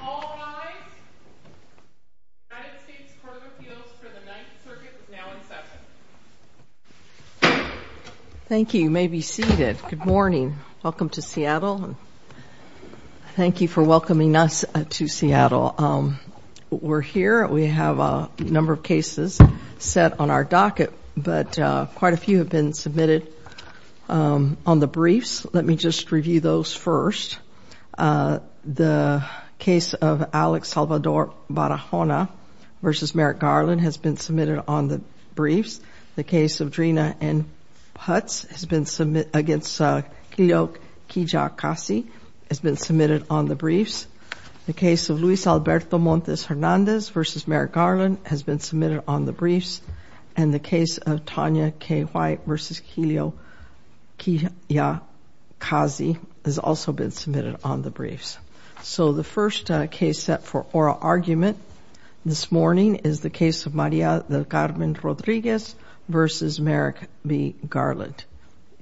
All rise. The United States Court of Appeals for the Ninth Circuit is now in session. The case of Alex Salvador Barahona v. Merrick Garland has been submitted on the briefs. The case of Drina N. Putz against Kiliok Kiyakasi has been submitted on the briefs. The case of Luis Alberto Montes Hernandez v. Merrick Garland has been submitted on the briefs. And the case of Tonya K. White v. Kiliok Kiyakasi has also been submitted on the briefs. So the first case set for oral argument this morning is the case of Maria del Carmen Rodriguez v. Merrick B. Garland.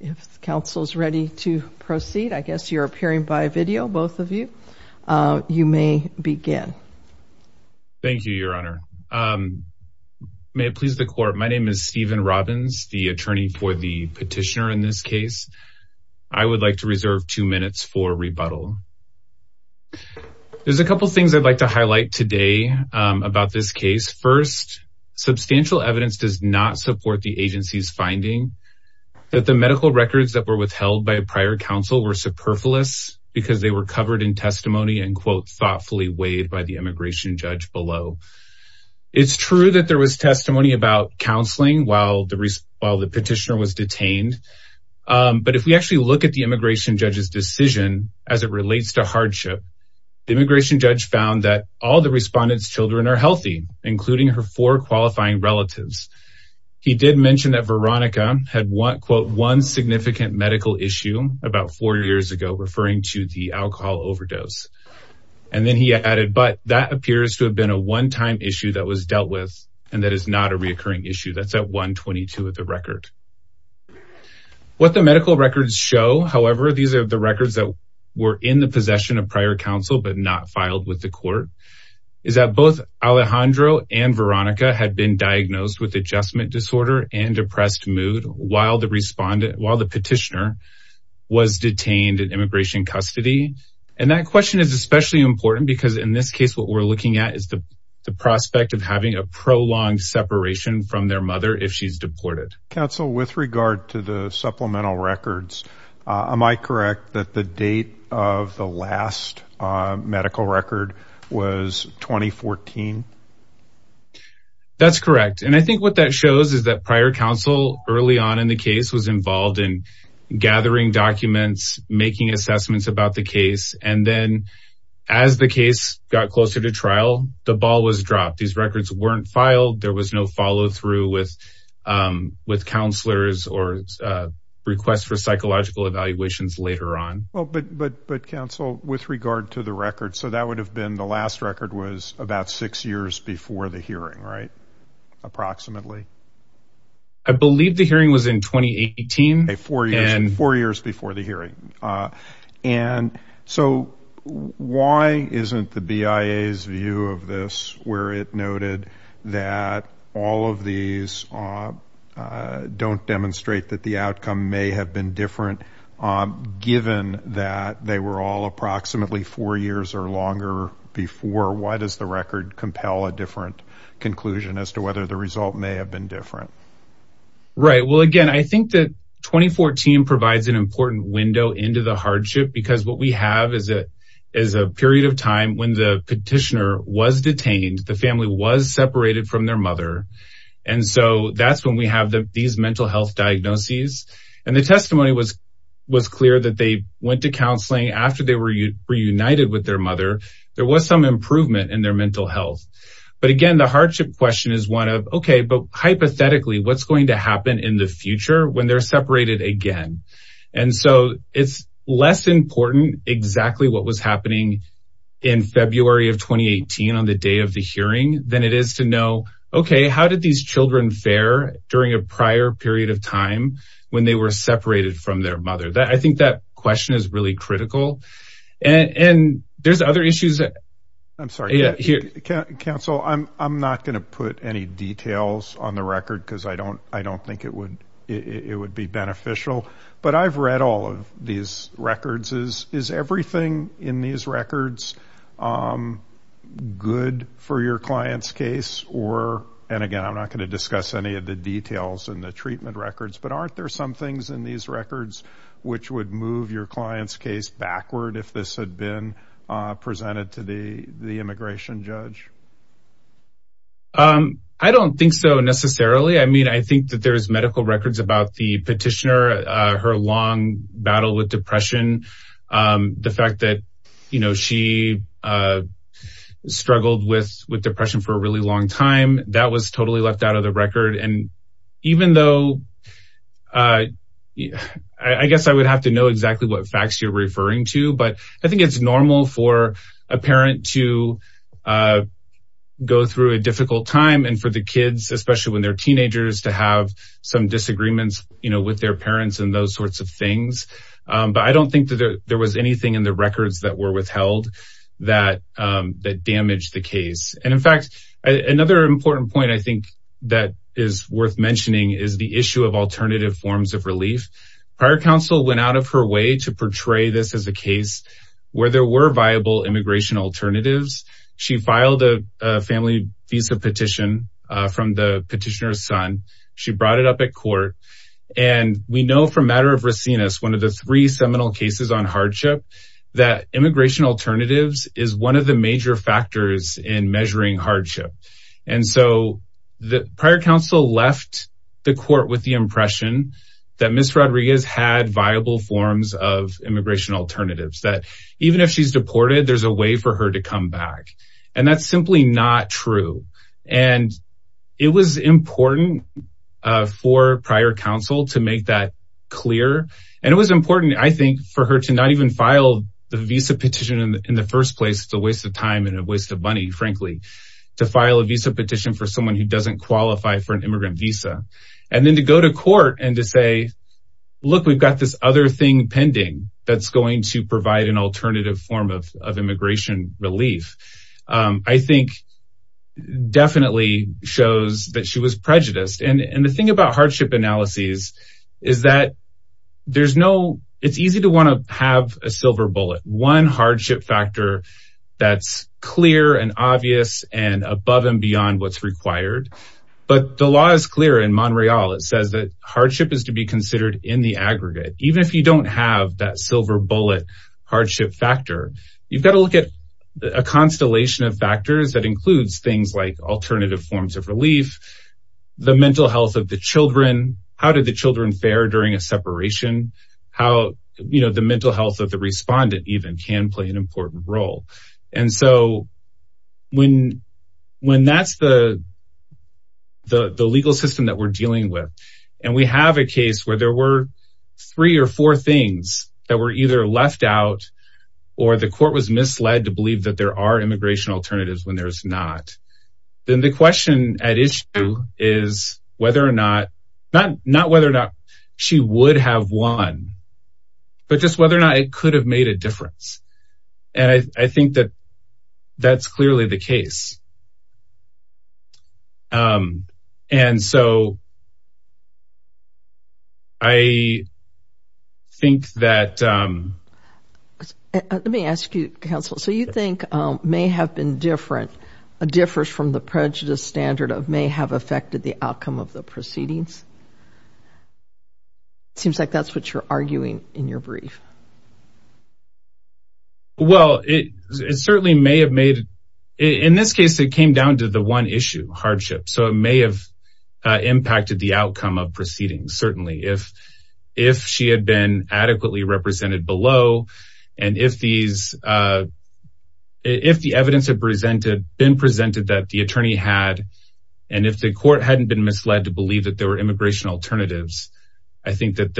If counsel is ready to proceed, I guess you're appearing by video, both of you. You may begin. Thank you, Your Honor. May it please the Court, my name is Stephen Robbins, the attorney for the petitioner in this case. I would like to reserve two minutes for rebuttal. There's a couple things I'd like to highlight today about this case. First, substantial evidence does not support the agency's finding that the medical records that were withheld by a prior counsel were superfluous because they were covered in testimony and quote, thoughtfully weighed by the immigration judge below. It's true that there was testimony about counseling while the petitioner was detained. But if we actually look at the immigration judge's decision as it relates to hardship, the immigration judge found that all the respondent's children are healthy, including her four qualifying relatives. He did mention that Veronica had one quote, one significant medical issue about four years ago, referring to the alcohol overdose. And then he added, but that appears to have been a one time issue that was dealt with. And that is not a reoccurring issue. That's at 122 of the record. What the medical records show, however, these are the records that were in the possession of prior counsel, but not filed with the court, is that both Alejandro and Veronica had been diagnosed with adjustment disorder and depressed mood while the petitioner was detained in immigration custody. And that question is especially important because in this case, what we're looking at is the prospect of having a prolonged separation from their mother if she's deported. Counsel, with regard to the supplemental records, am I correct that the date of the last medical record was 2014? That's correct. And I think what that shows is that prior counsel early on in the case was involved in gathering documents, making assessments about the case. And then as the case got closer to trial, the ball was dropped. These records weren't filed. There was no follow through with with counselors or request for psychological evaluations later on. But but but counsel, with regard to the record, so that would have been the last record was about six years before the hearing. Right. Approximately. I believe the hearing was in 2018, four years and four years before the hearing. And so why isn't the BIA's view of this where it noted that all of these don't demonstrate that the outcome may have been different, given that they were all approximately four years or longer before? Why does the record compel a different conclusion as to whether the result may have been different? Right. Well, again, I think that 2014 provides an important window into the hardship, because what we have is it is a period of time when the petitioner was detained. The family was separated from their mother. And so that's when we have these mental health diagnoses. And the testimony was was clear that they went to counseling after they were reunited with their mother. There was some improvement in their mental health. But again, the hardship question is one of, OK, but hypothetically, what's going to happen in the future when they're separated again? And so it's less important exactly what was happening in February of 2018 on the day of the hearing than it is to know. OK, how did these children fare during a prior period of time when they were separated from their mother? I think that question is really critical. And there's other issues. I'm sorry. Counsel, I'm not going to put any details on the record because I don't I don't think it would it would be beneficial. But I've read all of these records is is everything in these records good for your client's case or. And again, I'm not going to discuss any of the details in the treatment records. But aren't there some things in these records which would move your client's case backward if this had been presented to the immigration judge? I don't think so necessarily. I mean, I think that there is medical records about the petitioner, her long battle with depression. The fact that, you know, she struggled with with depression for a really long time. That was totally left out of the record. And even though I guess I would have to know exactly what facts you're referring to. But I think it's normal for a parent to go through a difficult time. And for the kids, especially when they're teenagers, to have some disagreements with their parents and those sorts of things. But I don't think that there was anything in the records that were withheld that that damaged the case. And in fact, another important point I think that is worth mentioning is the issue of alternative forms of relief. Prior counsel went out of her way to portray this as a case where there were viable immigration alternatives. She filed a family visa petition from the petitioner's son. She brought it up at court. And we know from Matter of Racines, one of the three seminal cases on hardship, that immigration alternatives is one of the major factors in measuring hardship. And so the prior counsel left the court with the impression that Ms. Rodriguez had viable forms of immigration alternatives, that even if she's deported, there's a way for her to come back. And that's simply not true. And it was important for prior counsel to make that clear. And it was important, I think, for her to not even file the visa petition in the first place. It's a waste of time and a waste of money, frankly, to file a visa petition for someone who doesn't qualify for an immigrant visa. And then to go to court and to say, look, we've got this other thing pending that's going to provide an alternative form of immigration relief. I think definitely shows that she was prejudiced. And the thing about hardship analyses is that there's no it's easy to want to have a silver bullet. One hardship factor that's clear and obvious and above and beyond what's required. But the law is clear in Montreal. It says that hardship is to be considered in the aggregate. Even if you don't have that silver bullet hardship factor, you've got to look at a constellation of factors that includes things like alternative forms of relief, the mental health of the children. How did the children fare during a separation? How the mental health of the respondent even can play an important role. And so when that's the legal system that we're dealing with and we have a case where there were three or four things that were either left out or the court was misled to believe that there are immigration alternatives when there is not. Then the question at issue is whether or not, not whether or not she would have won, but just whether or not it could have made a difference. And I think that that's clearly the case. And so I think that let me ask you, counsel, so you think may have been different, a difference from the prejudice standard of may have affected the outcome of the proceedings. Seems like that's what you're arguing in your brief. Well, it certainly may have made in this case, it came down to the one issue hardship. So it may have impacted the outcome of proceedings. Certainly, if if she had been adequately represented below and if these if the evidence had presented been presented that the attorney had and if the court hadn't been misled to believe that there were immigration alternatives. I think that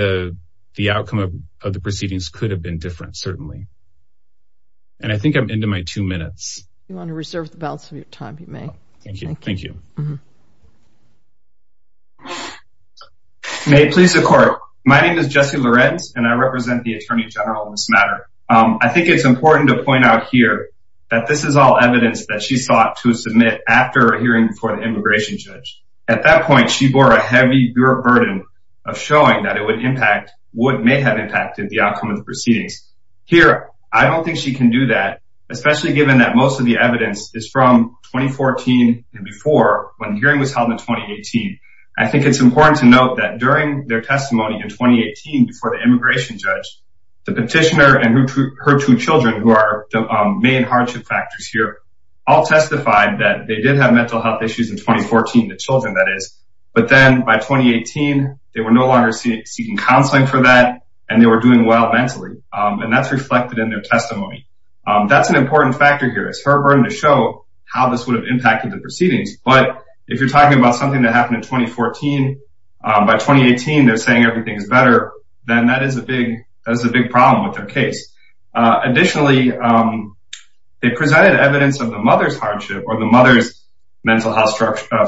the outcome of the proceedings could have been different. Certainly. And I think I'm into my two minutes. You want to reserve the balance of your time. You may. Thank you. Thank you. May it please the court. My name is Jesse Lorenz and I represent the attorney general in this matter. I think it's important to point out here that this is all evidence that she sought to submit after hearing for the immigration judge. At that point, she bore a heavy burden of showing that it would impact what may have impacted the outcome of the proceedings here. I don't think she can do that, especially given that most of the evidence is from 2014. And before when the hearing was held in 2018, I think it's important to note that during their testimony in 2018, before the immigration judge, the petitioner and her two children who are the main hardship factors here. All testified that they did have mental health issues in 2014, the children that is. But then by 2018, they were no longer seeking counseling for that and they were doing well mentally. And that's reflected in their testimony. That's an important factor here. It's her burden to show how this would have impacted the proceedings. But if you're talking about something that happened in 2014, by 2018, they're saying everything is better. Then that is a big problem with their case. Additionally, they presented evidence of the mother's hardship or the mother's mental health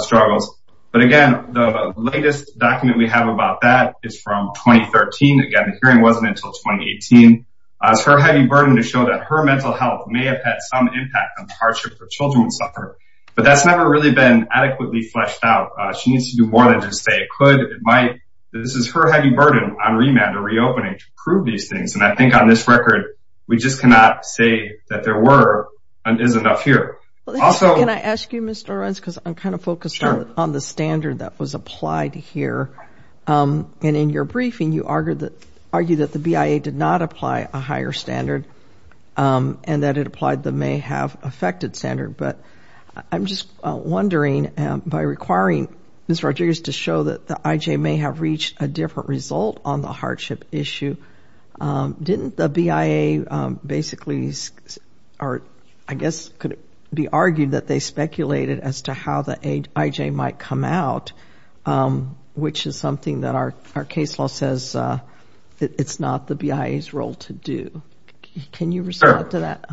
struggles. But again, the latest document we have about that is from 2013. Again, the hearing wasn't until 2018. It's her heavy burden to show that her mental health may have had some impact on the hardship the children would suffer. But that's never really been adequately fleshed out. She needs to do more than just say it could, it might. This is her heavy burden on remand or reopening to prove these things. And I think on this record, we just cannot say that there were and is enough here. Also- Can I ask you, Mr. Lorenz, because I'm kind of focused on the standard that was applied here. And in your briefing, you argued that the BIA did not apply a higher standard and that it applied the may have affected standard. But I'm just wondering, by requiring Ms. Rodriguez to show that the IJ may have reached a different result on the hardship issue, didn't the BIA basically, or I guess could it be argued that they speculated as to how the IJ might come out, which is something that our case law says it's not the BIA's role to do. Can you respond to that?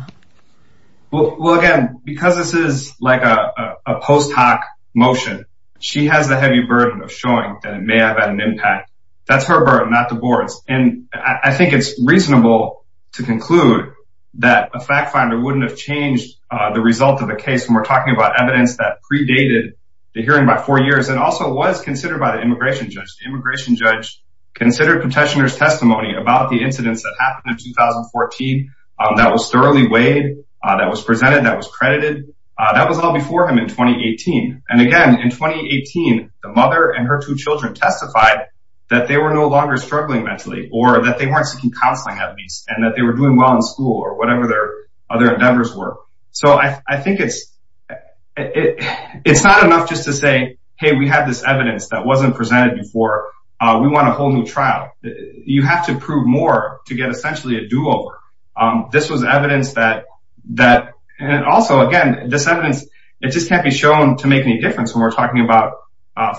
Well, again, because this is like a post hoc motion, she has the heavy burden of showing that it may have had an impact. That's her burden, not the board's. And I think it's reasonable to conclude that a fact finder wouldn't have changed the result of the case when we're talking about evidence that predated the hearing by four years and also was considered by the immigration judge. The immigration judge considered petitioner's testimony about the incidents that happened in 2014. That was thoroughly weighed. That was presented. That was credited. That was all before him in 2018. And again, in 2018, the mother and her two children testified that they were no longer struggling mentally or that they weren't seeking counseling at least and that they were doing well in school or whatever their other endeavors were. So I think it's not enough just to say, hey, we have this evidence that wasn't presented before. We want a whole new trial. You have to prove more to get essentially a do-over. This was evidence that also, again, this evidence, it just can't be shown to make any difference when we're talking about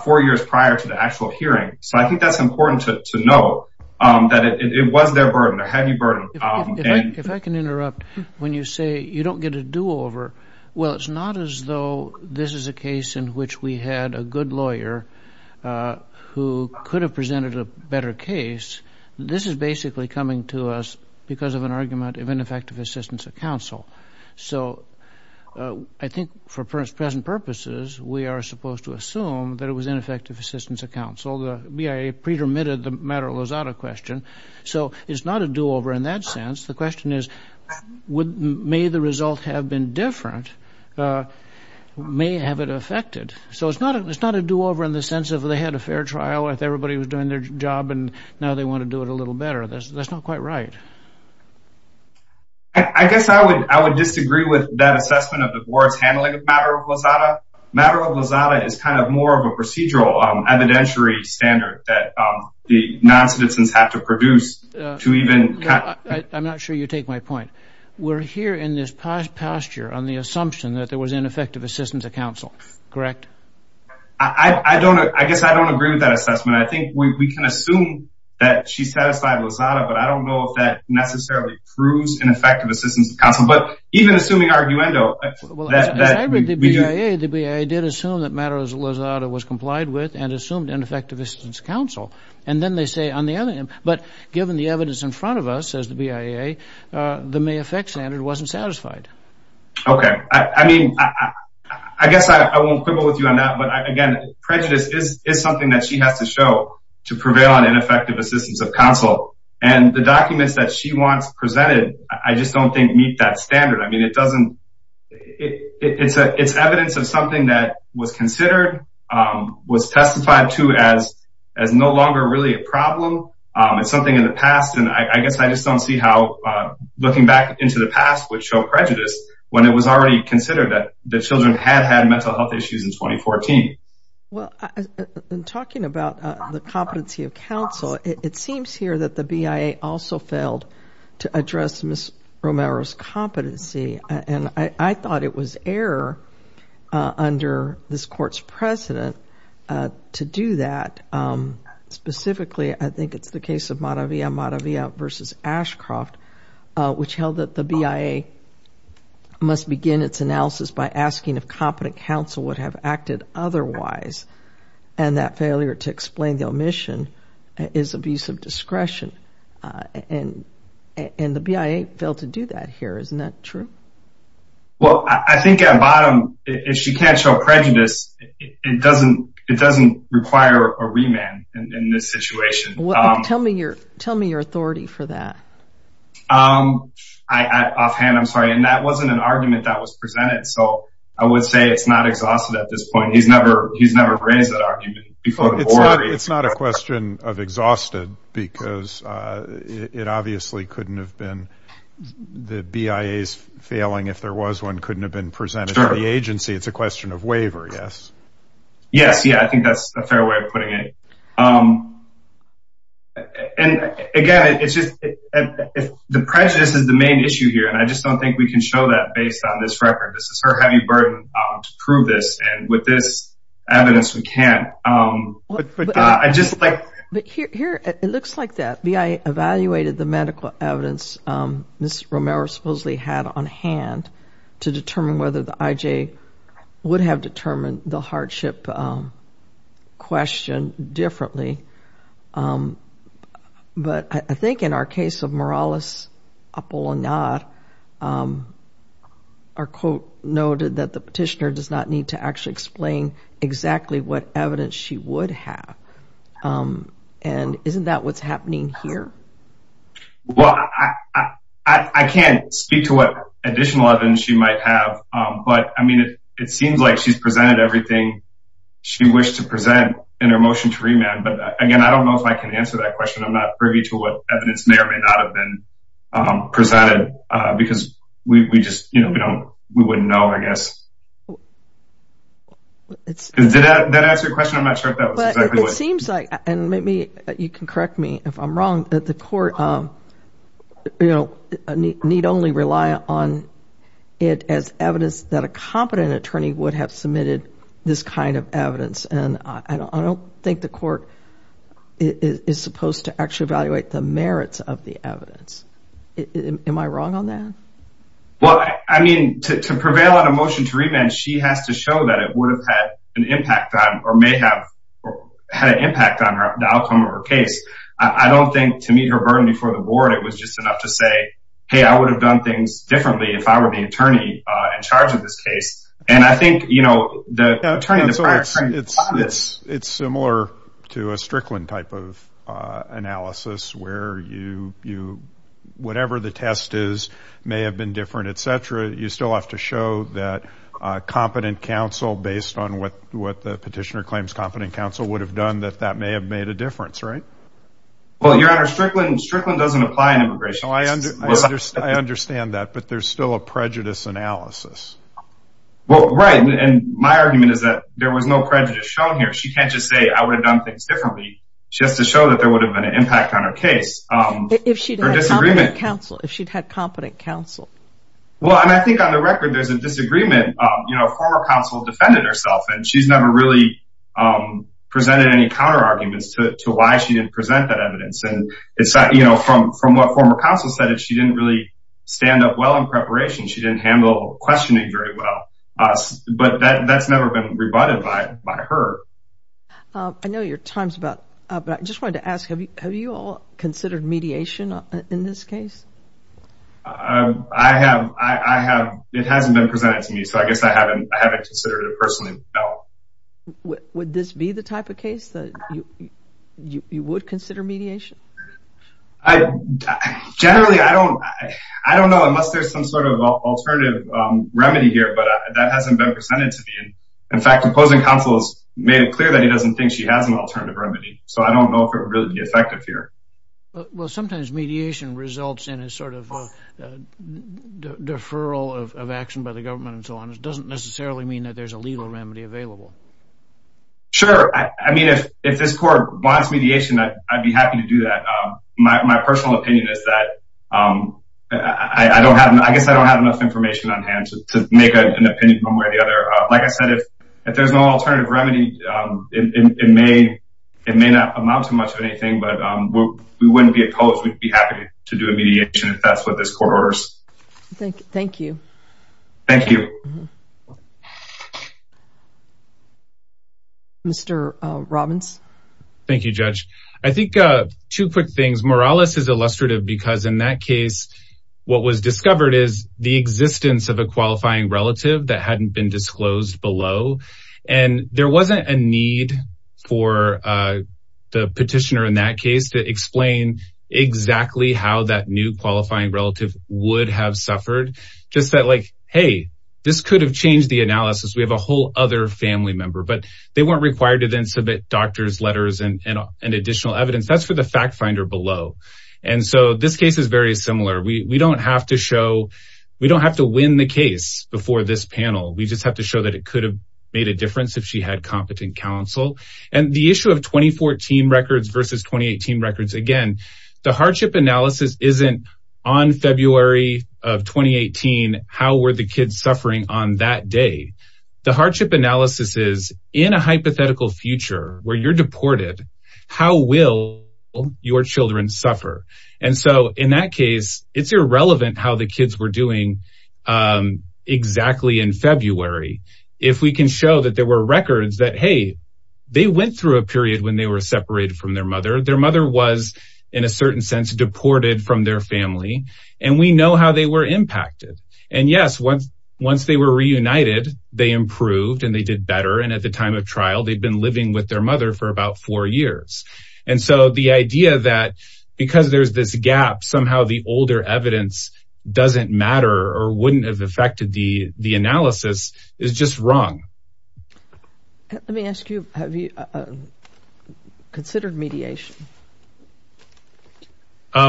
four years prior to the actual hearing. So I think that's important to know that it was their burden, their heavy burden. If I can interrupt. When you say you don't get a do-over, well, it's not as though this is a case in which we had a good lawyer who could have presented a better case. This is basically coming to us because of an argument of ineffective assistance of counsel. So I think for present purposes, we are supposed to assume that it was ineffective assistance of counsel. The BIA pre-dermitted the matter of Lozada question. So it's not a do-over in that sense. The question is, may the result have been different, may have it affected? So it's not a do-over in the sense of they had a fair trial if everybody was doing their job and now they want to do it a little better. That's not quite right. I guess I would disagree with that assessment of the board's handling of the matter of Lozada. The matter of Lozada is kind of more of a procedural evidentiary standard that the non-citizens have to produce to even… I'm not sure you take my point. We're here in this posture on the assumption that there was ineffective assistance of counsel, correct? I guess I don't agree with that assessment. I think we can assume that she satisfied Lozada, but I don't know if that necessarily proves ineffective assistance of counsel. But even assuming arguendo… The BIA did assume that the matter of Lozada was complied with and assumed ineffective assistance of counsel. But given the evidence in front of us, says the BIA, the may affect standard wasn't satisfied. Okay. I mean, I guess I won't quibble with you on that, but again, prejudice is something that she has to show to prevail on ineffective assistance of counsel. And the documents that she wants presented I just don't think meet that standard. I mean, it doesn't… It's evidence of something that was considered, was testified to as no longer really a problem. It's something in the past, and I guess I just don't see how looking back into the past would show prejudice when it was already considered that the children had had mental health issues in 2014. Well, in talking about the competency of counsel, it seems here that the BIA also failed to address Ms. Romero's competency, and I thought it was error under this Court's precedent to do that. Specifically, I think it's the case of Madavia, Madavia v. Ashcroft, which held that the BIA must begin its analysis by asking if competent counsel would have acted otherwise, and that failure to explain the omission is abuse of discretion. And the BIA failed to do that here. Isn't that true? Well, I think at bottom, if she can't show prejudice, it doesn't require a remand in this situation. Tell me your authority for that. Offhand, I'm sorry, and that wasn't an argument that was presented, so I would say it's not exhausted at this point. He's never raised that argument before. It's not a question of exhausted because it obviously couldn't have been the BIA's failing if there was one couldn't have been presented to the agency. It's a question of waiver, yes. Yes, yeah, I think that's a fair way of putting it. And, again, it's just the prejudice is the main issue here, and I just don't think we can show that based on this record. This is her heavy burden to prove this, and with this evidence we can't. But here it looks like that. BIA evaluated the medical evidence Ms. Romero supposedly had on hand to determine whether the IJ would have determined the hardship question differently. But I think in our case of Morales Apolinar, our quote noted that the petitioner does not need to actually explain exactly what evidence she would have. And isn't that what's happening here? Well, I can't speak to what additional evidence she might have, but, I mean, it seems like she's presented everything she wished to present in her motion to remand. But, again, I don't know if I can answer that question. I'm not privy to what evidence may or may not have been presented because we just, you know, we wouldn't know, I guess. Did that answer your question? I'm not sure if that was exactly what you said. It seems like, and maybe you can correct me if I'm wrong, that the court need only rely on it as evidence that a competent attorney would have submitted this kind of evidence. And I don't think the court is supposed to actually evaluate the merits of the evidence. Am I wrong on that? Well, I mean, to prevail on a motion to remand, she has to show that it would have had an impact on or may have had an impact on the outcome of her case. I don't think to meet her burden before the board, it was just enough to say, hey, I would have done things differently if I were the attorney in charge of this case. And I think, you know, the attorney in the prior case. It's similar to a Strickland type of analysis where whatever the test is may have been different, et cetera. You still have to show that a competent counsel, based on what the petitioner claims competent counsel would have done, that that may have made a difference, right? Well, Your Honor, Strickland doesn't apply in immigration. I understand that, but there's still a prejudice analysis. Well, right, and my argument is that there was no prejudice shown here. She can't just say, I would have done things differently. She has to show that there would have been an impact on her case. If she'd had competent counsel. Well, and I think on the record, there's a disagreement. You know, a former counsel defended herself, and she's never really presented any counter arguments to why she didn't present that evidence. And, you know, from what former counsel said, if she didn't really stand up well in preparation, she didn't handle questioning very well. But that's never been rebutted by her. I know your time's about up, but I just wanted to ask, have you all considered mediation in this case? I have. It hasn't been presented to me, so I guess I haven't considered it personally. Would this be the type of case that you would consider mediation? Generally, I don't know. Unless there's some sort of alternative remedy here, but that hasn't been presented to me. In fact, the opposing counsel has made it clear that he doesn't think she has an alternative remedy. So I don't know if it would really be effective here. Well, sometimes mediation results in a sort of deferral of action by the government and so on. It doesn't necessarily mean that there's a legal remedy available. Sure. I mean, if this court wants mediation, I'd be happy to do that. My personal opinion is that I guess I don't have enough information on hand to make an opinion one way or the other. Like I said, if there's no alternative remedy, it may not amount to much of anything, but we wouldn't be opposed. We'd be happy to do a mediation if that's what this court orders. Thank you. Thank you. Mr. Robbins. Thank you, Judge. I think two quick things. Morales is illustrative because in that case, what was discovered is the existence of a qualifying relative that hadn't been disclosed below. And there wasn't a need for the petitioner in that case to explain exactly how that new qualifying relative would have suffered. Just that like, hey, this could have changed the analysis. We have a whole other family member, but they weren't required to then submit doctor's letters and additional evidence. That's for the fact finder below. And so this case is very similar. We don't have to win the case before this panel. We just have to show that it could have made a difference if she had competent counsel. And the issue of 2014 records versus 2018 records, again, the hardship analysis isn't on February of 2018. How were the kids suffering on that day? The hardship analysis is in a hypothetical future where you're deported. How will your children suffer? And so in that case, it's irrelevant how the kids were doing exactly in February. If we can show that there were records that, hey, they went through a period when they were separated from their mother. Their mother was, in a certain sense, deported from their family. And we know how they were impacted. And, yes, once they were reunited, they improved and they did better. And at the time of trial, they'd been living with their mother for about four years. And so the idea that because there's this gap, somehow the older evidence doesn't matter or wouldn't have affected the analysis is just wrong. Let me ask you, have you considered mediation?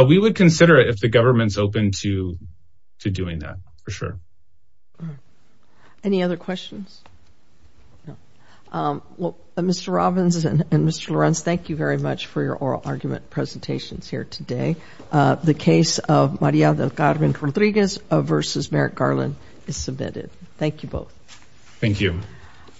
We would consider it if the government's open to doing that, for sure. Any other questions? Well, Mr. Robbins and Mr. Lorenz, thank you very much for your oral argument presentations here today. The case of Maria del Carmen Rodriguez versus Merrick Garland is submitted. Thank you both. Thank you.